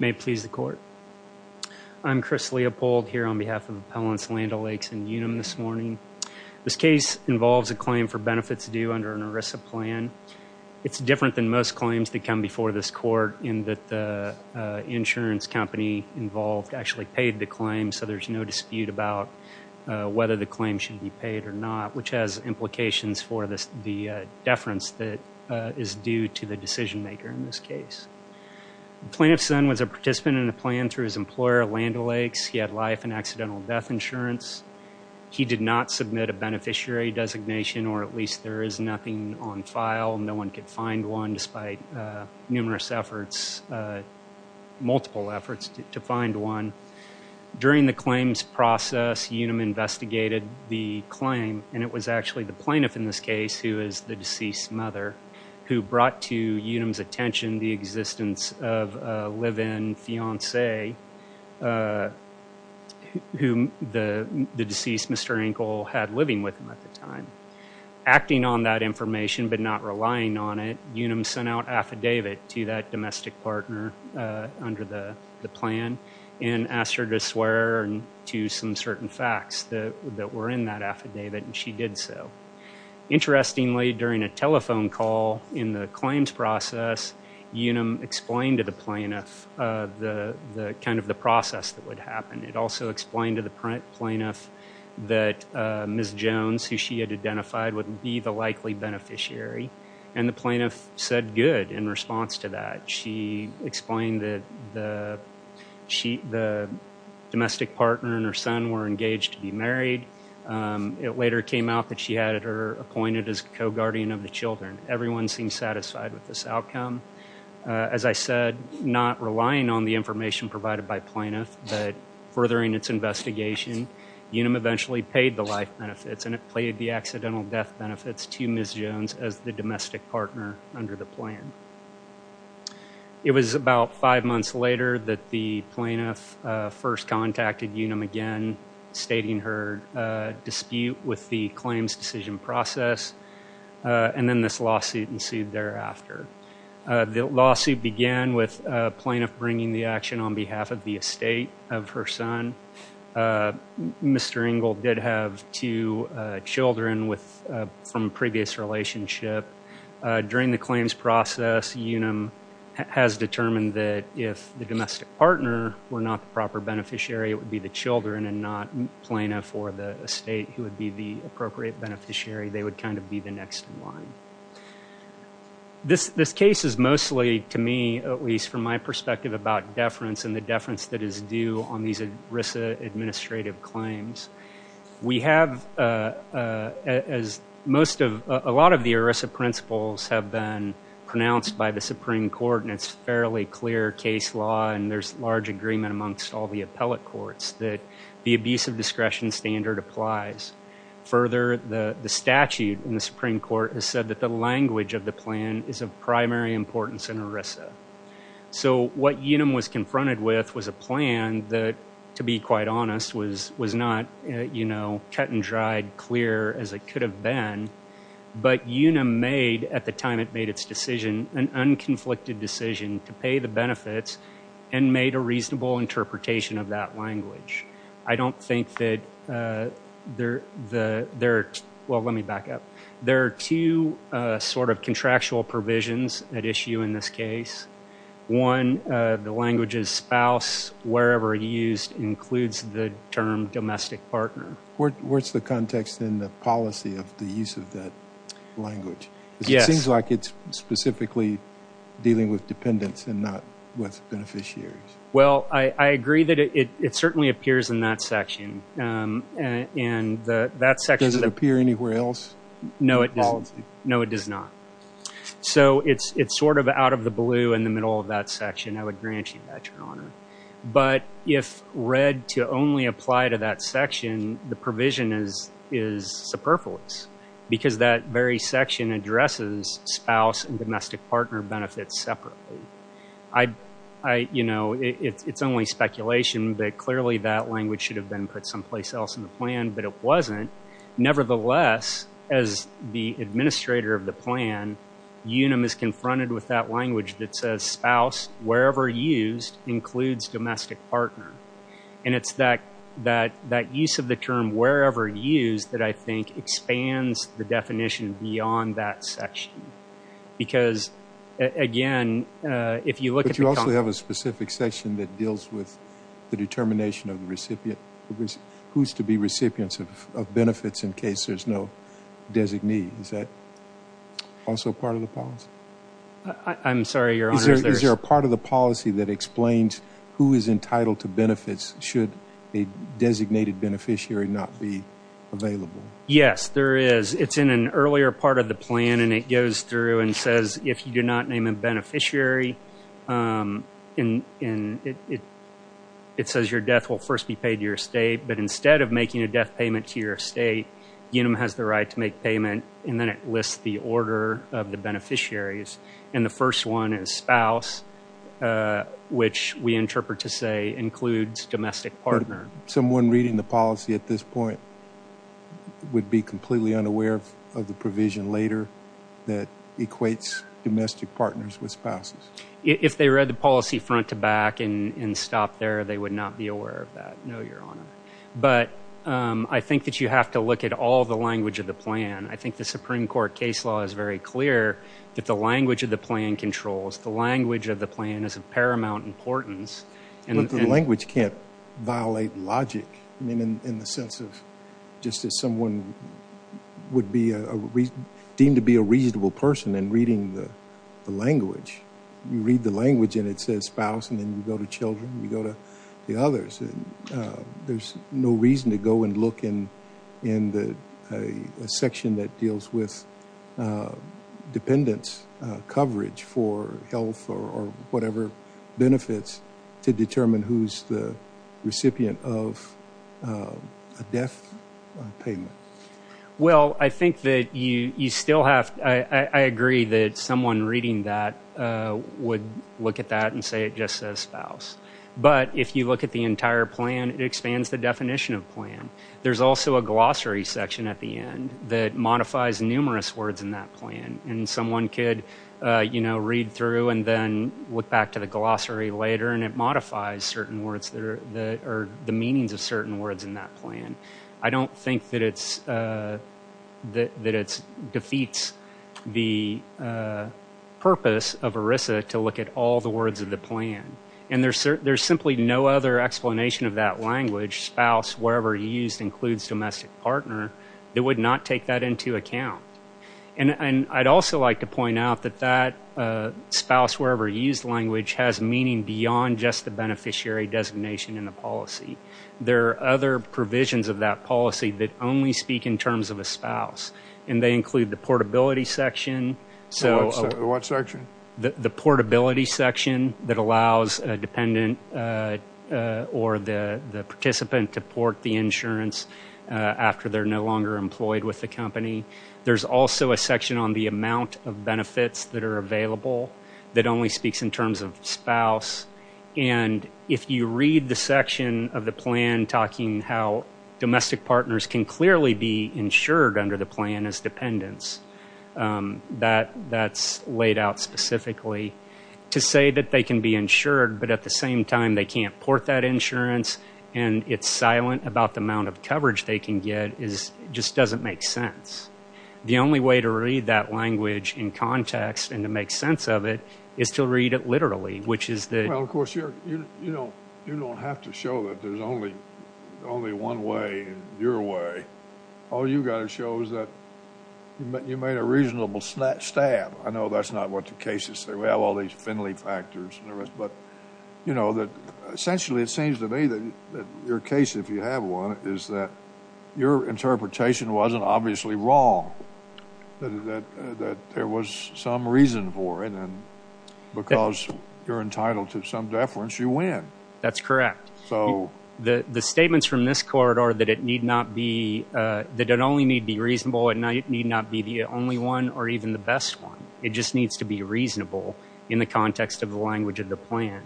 May it please the Court. I'm Chris Leopold here on behalf of Appellants Land O'Lakes and Unum this morning. This case involves a claim for benefits due under an ERISA plan. It's different than most claims that come before this Court in that the insurance company involved actually paid the claim, so there's no dispute about whether the claim should be paid or not, which has implications for the deference that is due to the decision maker in this case. The plaintiff's son was a participant in a plan through his employer, Land O'Lakes. He had life and accidental death insurance. He did not submit a beneficiary designation, or at least there is nothing on file. No one could find one despite numerous efforts, multiple efforts, to find one. During the claims process, Unum investigated the claim, and it was actually the plaintiff in this case, who is the deceased mother, who brought to Unum's attention the existence of a live-in fiancé whom the deceased Mr. Engle had living with him at the time. Acting on that information but not relying on it, Unum sent out an affidavit to that domestic partner under the plan and asked her to swear to some certain facts that were in that affidavit, and she did so. Interestingly, during a telephone call in the claims process, Unum explained to the plaintiff the process that would happen. It also explained to the plaintiff that Ms. Jones, who she had identified, would be the likely beneficiary, and the plaintiff said good in response to that. She explained that the domestic partner and her son were engaged to be married. It later came out that she had her appointed as co-guardian of the children. Everyone seemed satisfied with this outcome. As I said, not relying on the information provided by plaintiff, but furthering its investigation, Unum eventually paid the life benefits, and it paid the accidental death plan. It was about five months later that the plaintiff first contacted Unum again, stating her dispute with the claims decision process, and then this lawsuit ensued thereafter. The lawsuit began with plaintiff bringing the action on behalf of the estate of her son. Mr. Engel did have two children from a previous relationship. During the claims process, Unum has determined that if the domestic partner were not the proper beneficiary, it would be the children and not plaintiff or the estate who would be the appropriate beneficiary. They would kind of be the next in line. This case is mostly, to me at least, from my perspective, about deference and the deference that is due on these ERISA administrative claims. We have, as most of, a lot of the ERISA principles have been pronounced by the Supreme Court, and it's fairly clear case law, and there's large agreement amongst all the appellate courts that the abuse of discretion standard applies. Further, the statute in the Supreme Court has said that the language of the plan is of primary importance in ERISA. So what Unum was confronted with was a plan that, to be quite honest, was not, you know, cut and dried, clear as it could have been. But Unum made, at the time it made its decision, an unconflicted decision to pay the benefits and made a reasonable interpretation of that language. I don't think that there, well, let me back up. There are two sort of contractual provisions at issue in this case. One, the language's spouse, wherever it's used, includes the term domestic partner. Where's the context in the policy of the use of that language? Yes. It seems like it's specifically dealing with dependents and not with beneficiaries. Well, I agree that it certainly appears in that section. And that section... No, it doesn't. No, it does not. So it's sort of out of the blue in the middle of that section. I would grant you that, Your Honor. But if read to only apply to that section, the provision is superfluous. Because that very section addresses spouse and domestic partner benefits separately. You know, it's only speculation that clearly that language should have been put someplace else in the plan. But it wasn't. Nevertheless, as the administrator of the plan, Unum is confronted with that language that says spouse, wherever used, includes domestic partner. And it's that use of the term wherever used that I think expands the definition beyond that section. Because again, if you look at the... But you also have a specific section that deals with the determination of the recipient, who's to be recipients of benefits in case there's no designee. Is that also part of the policy? I'm sorry, Your Honor. Is there a part of the policy that explains who is entitled to benefits should a designated beneficiary not be available? Yes, there is. It's in an earlier part of the plan. And it goes through and says, if you do not name a beneficiary, it says your death will first be paid to your estate. But instead of making a death payment to your estate, Unum has the right to make payment. And then it lists the order of the beneficiaries. And the first one is spouse, which we interpret to say includes domestic partner. Someone reading the policy at this point would be completely unaware of the provision later that equates domestic partners with spouses. If they read the policy front to back and stopped there, they would not be aware of that. No, Your Honor. But I think that you have to look at all the language of the plan. I think the Supreme Court case law is very clear that the language of the plan controls. The language of the plan is of paramount importance. But the language can't violate logic in the sense of just that someone would be deemed to be a reasonable person in reading the language. You read the language and it says spouse, and then you go to children, you go to the others. And there's no reason to go and look in a section that deals with dependents' coverage for health or whatever benefits to determine who's the recipient of a death payment. Well, I think that you still have, I agree that someone reading that would look at that and say it just says spouse. But if you look at the entire plan, it expands the definition of plan. There's also a glossary section at the end that modifies numerous words in that plan. And someone could, you know, read through and then look back to the glossary later and it modifies certain words or the meanings of certain words in that plan. I don't think that it defeats the purpose of ERISA to look at all the words of the plan. And there's simply no other explanation of that language, spouse, wherever used, includes domestic partner, that would not take that into account. And I'd also like to point out that that spouse, wherever used language has meaning beyond just the beneficiary designation in the policy. There are other provisions of that policy that only speak in terms of a spouse. And they include the portability section. So what section? The portability section that allows a dependent or the participant to port the insurance after they're no longer employed with the company. There's also a section on the amount of benefits that are available that only speaks in terms of spouse. And if you read the section of the plan talking how domestic partners can clearly be insured under the plan as dependents, that's laid out specifically. To say that they can be insured but at the same time they can't port that insurance and it's silent about the amount of coverage they can get just doesn't make sense. The only way to read that language in context and to make sense of it is to read it literally, which is the- Well, of course, you don't have to show that there's only one way, your way. All you've got to show is that you made a reasonable stab. I know that's not what the cases say. We have all these Finley factors and the rest, but essentially it seems to me that your case, if you have one, is that your interpretation wasn't obviously wrong, that there was some reason for it and because you're entitled to some deference, you win. That's correct. So- The statements from this court are that it need not be, that it only need be reasonable and it need not be the only one or even the best one. It just needs to be reasonable in the context of the language of the plan.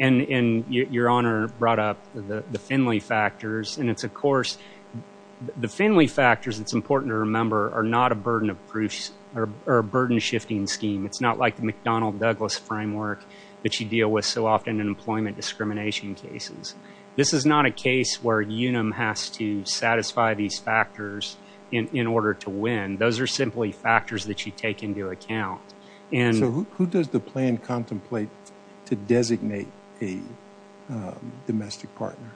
And your Honor brought up the Finley factors and it's, of course, the Finley factors, it's a burden-shifting scheme. It's not like the McDonnell-Douglas framework that you deal with so often in employment discrimination cases. This is not a case where Unum has to satisfy these factors in order to win. Those are simply factors that you take into account and- So who does the plan contemplate to designate a domestic partner?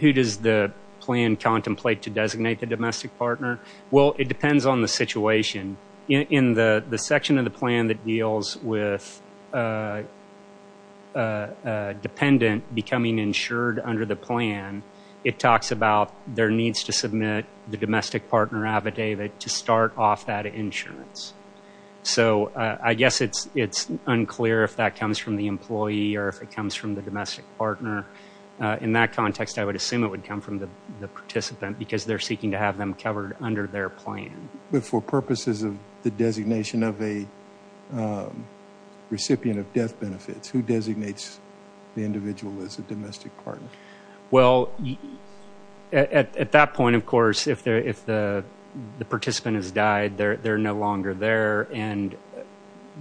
Who does the plan contemplate to designate the domestic partner? Well, it depends on the situation. In the section of the plan that deals with a dependent becoming insured under the plan, it talks about their needs to submit the domestic partner affidavit to start off that insurance. So I guess it's unclear if that comes from the employee or if it comes from the domestic partner. In that context, I would assume it would come from the participant because they're seeking to have them covered under their plan. For purposes of the designation of a recipient of death benefits, who designates the individual as a domestic partner? Well, at that point, of course, if the participant has died, they're no longer there and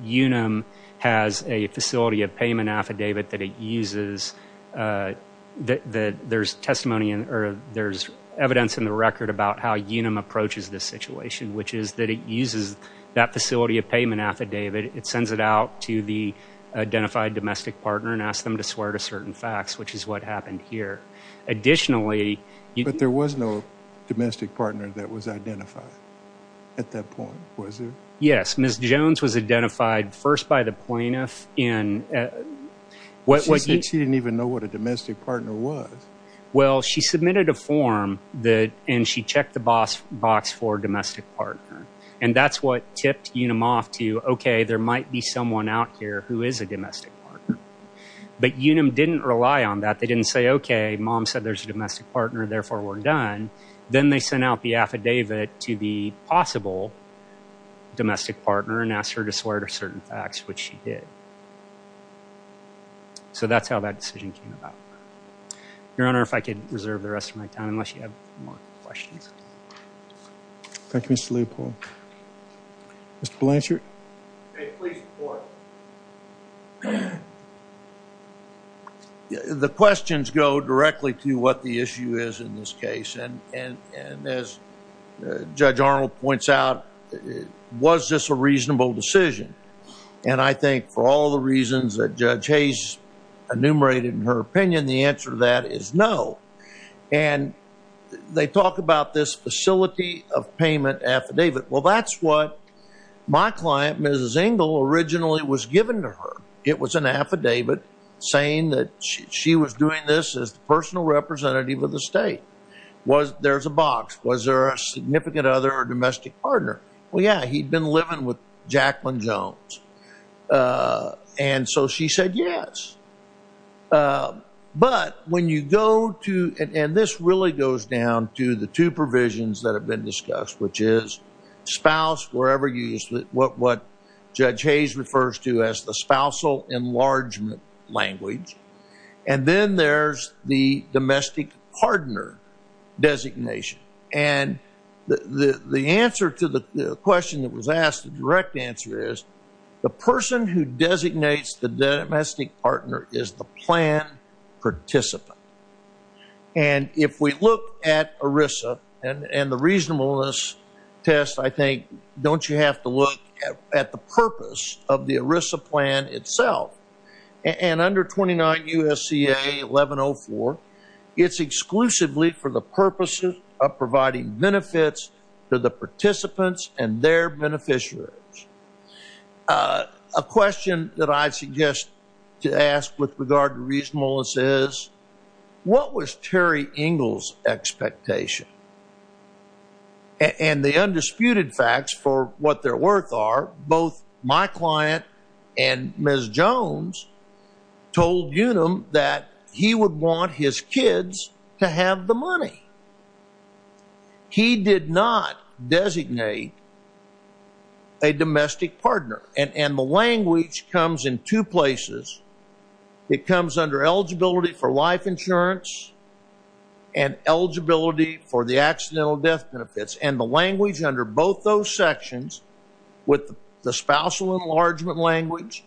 Unum has a facility of payment affidavit that it uses that there's testimony or there's evidence in the record about how Unum approaches this situation, which is that it uses that facility of payment affidavit. It sends it out to the identified domestic partner and asks them to swear to certain facts, which is what happened here. Additionally- But there was no domestic partner that was identified at that point, was there? Yes. Ms. Jones was identified first by the plaintiff in- She didn't even know what a domestic partner was. Well, she submitted a form and she checked the box for domestic partner. And that's what tipped Unum off to, okay, there might be someone out here who is a domestic partner. But Unum didn't rely on that. They didn't say, okay, mom said there's a domestic partner, therefore we're done. Then they sent out the affidavit to the possible domestic partner and asked her to swear to certain facts, which she did. So that's how that decision came about. Your Honor, if I could reserve the rest of my time, unless you have more questions. Thank you, Mr. Leopold. Mr. Blanchard? May it please the Court. The questions go directly to what the issue is in this case. And as Judge Arnold points out, was this a reasonable decision? And I think for all the reasons that Judge Hayes enumerated in her opinion, the answer to that is no. And they talk about this facility of payment affidavit. Well, that's what my client, Mrs. Engel, originally was giving to her. It was an affidavit saying that she was doing this as the personal representative of the state. There's a box. Was there a significant other domestic partner? Well, yeah, he'd been living with Jacqueline Jones. And so she said yes. But when you go to – and this really goes down to the two provisions that have been discussed, which is spouse, whatever you – what Judge Hayes refers to as the spousal enlargement language. And then there's the domestic partner designation. And the answer to the question that was asked, the direct answer is the person who designates the domestic partner is the plan participant. And if we look at ERISA and the reasonableness test, I think don't you have to look at the purpose of the ERISA plan itself. And under 29 U.S.C.A. 1104, it's exclusively for the purposes of providing benefits to the participants and their beneficiaries. A question that I suggest to ask with regard to reasonableness is what was Terry Engel's expectation? And the undisputed facts for what their worth are, both my client and Ms. Jones told Unum that he would want his kids to have the money. He did not designate a domestic partner. And the language comes in two places. It comes under eligibility for life insurance and eligibility for the accidental death benefits. And the language under both those sections with the spousal enlargement language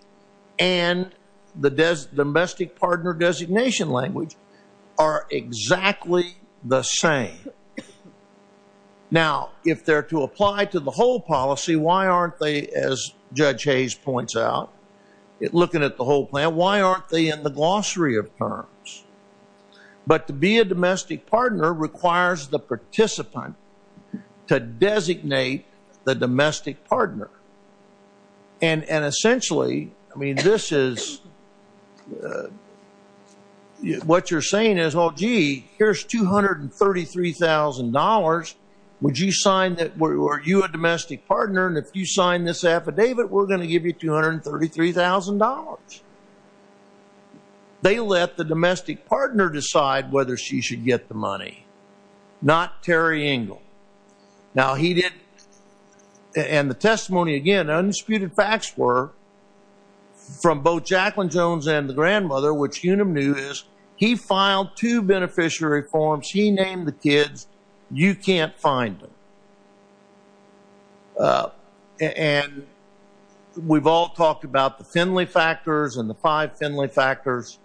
and the domestic partner designation language are exactly the same. Now, if they're to apply to the whole policy, why aren't they, as Judge Hayes points out, looking at the whole plan, why aren't they in the glossary of terms? But to be a domestic partner requires the participant to designate the domestic partner. And essentially, I mean, this is what you're saying is, well, gee, here's $233,000. Would you sign that? Are you a domestic partner? And if you sign this affidavit, we're going to give you $233,000. They let the domestic partner decide whether she should get the money, not Terry Engel. Now, he didn't. And the testimony, again, undisputed facts were from both Jacqueline Jones and the grandmother, he filed two beneficiary forms. He named the kids. You can't find them. And we've all talked about the Finley factors and the five Finley factors.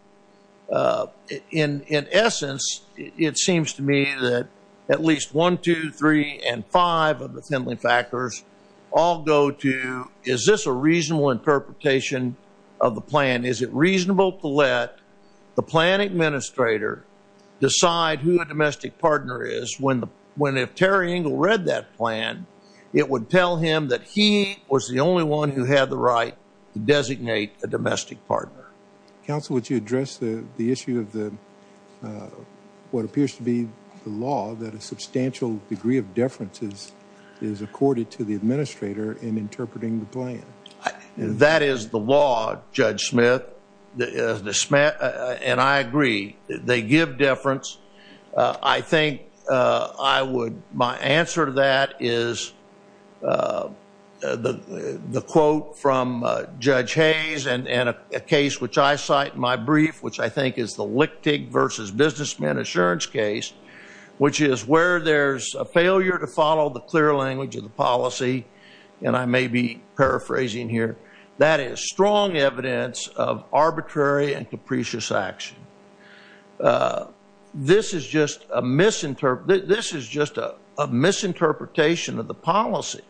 In essence, it seems to me that at least one, two, three, and five of the Finley factors all go to, is this a reasonable interpretation of the plan? And is it reasonable to let the plan administrator decide who a domestic partner is when, if Terry Engel read that plan, it would tell him that he was the only one who had the right to designate a domestic partner. Counsel, would you address the issue of what appears to be the law, that a substantial degree of deference is accorded to the administrator in interpreting the plan? That is the law, Judge Smith, and I agree. They give deference. I think I would, my answer to that is the quote from Judge Hayes and a case which I cite in my brief, which I think is the Lichtig versus Businessman Assurance case, which is where there's a failure to follow the clear language of the policy, and I may be paraphrasing here, that is strong evidence of arbitrary and capricious action. This is just a misinterpretation of the policy.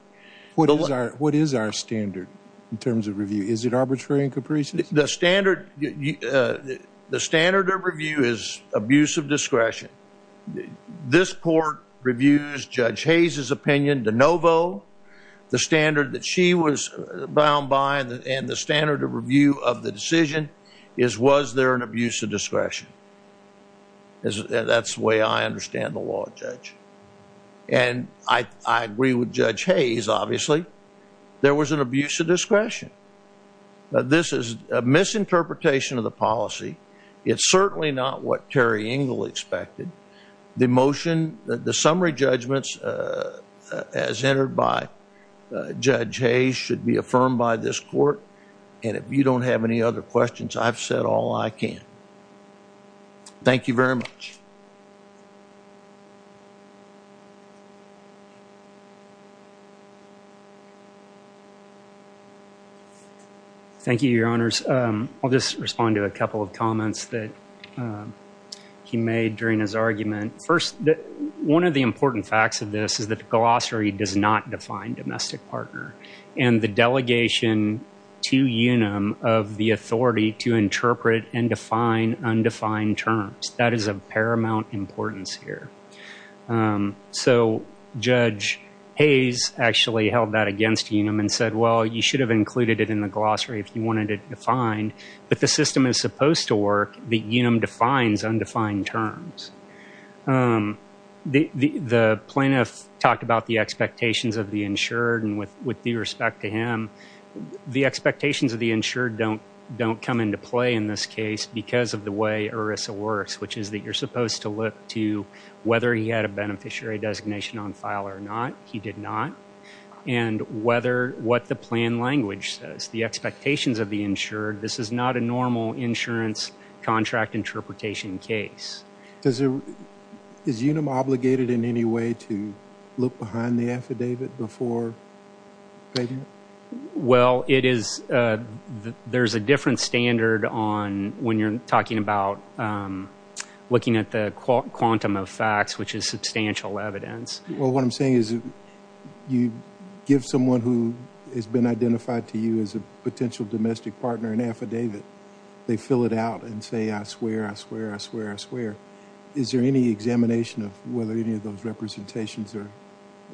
What is our standard in terms of review? Is it arbitrary and capricious? The standard of review is abuse of discretion. This court reviews Judge Hayes' opinion de novo. The standard that she was bound by and the standard of review of the decision is, was there an abuse of discretion? That's the way I understand the law, Judge, and I agree with Judge Hayes, obviously. There was an abuse of discretion. This is a misinterpretation of the policy. It's certainly not what Terry Engel expected. The motion, the summary judgments as entered by Judge Hayes should be affirmed by this court, and if you don't have any other questions, I've said all I can. Thank you very much. Thank you, Your Honors. I'll just respond to a couple of comments that he made during his argument. First, one of the important facts of this is that the glossary does not define domestic partner, and the delegation to UNAM of the authority to interpret and define undefined terms, that is of paramount importance here. So Judge Hayes actually held that against UNAM and said, well, you should have included it in the glossary if you wanted it defined, but the system is supposed to work that UNAM defines undefined terms. The plaintiff talked about the expectations of the insured, and with due respect to him, the expectations of the insured don't come into play in this case because of the way ERISA works, which is that you're supposed to look to whether he had a beneficiary designation on file or not. He did not. And what the plan language says, the expectations of the insured, this is not a normal insurance contract interpretation case. Is UNAM obligated in any way to look behind the affidavit before fading it? Well, there's a different standard when you're talking about looking at the quantum of facts, which is substantial evidence. Well, what I'm saying is you give someone who has been identified to you as a potential domestic partner an affidavit. They fill it out and say, I swear, I swear, I swear, I swear. Is there any examination of whether any of those representations or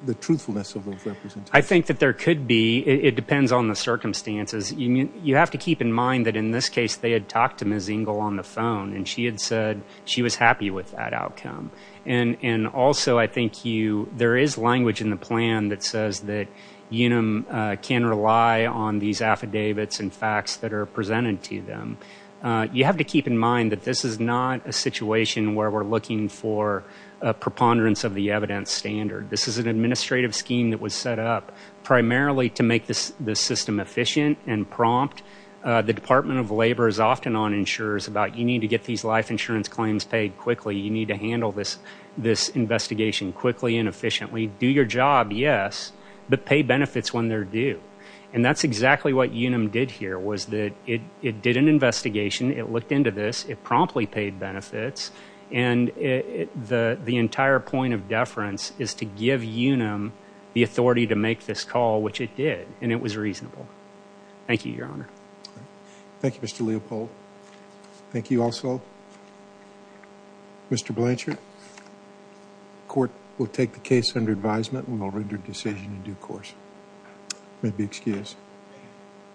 the truthfulness of those representations? I think that there could be. It depends on the circumstances. You have to keep in mind that in this case they had talked to Mazingel on the phone, and she had said she was happy with that outcome. And also I think there is language in the plan that says that UNAM can rely on these affidavits and facts that are presented to them. You have to keep in mind that this is not a situation where we're looking for a preponderance of the evidence standard. This is an administrative scheme that was set up primarily to make the system efficient and prompt. The Department of Labor is often on insurers about, you need to get these life insurance claims paid quickly. You need to handle this investigation quickly and efficiently. Do your job, yes, but pay benefits when they're due. And that's exactly what UNAM did here was that it did an investigation, it looked into this, it promptly paid benefits, and the entire point of deference is to give UNAM the authority to make this call, which it did, and it was reasonable. Thank you, Your Honor. Thank you, Mr. Leopold. Thank you also, Mr. Blanchard. The court will take the case under advisement and will render a decision in due course. You may be excused.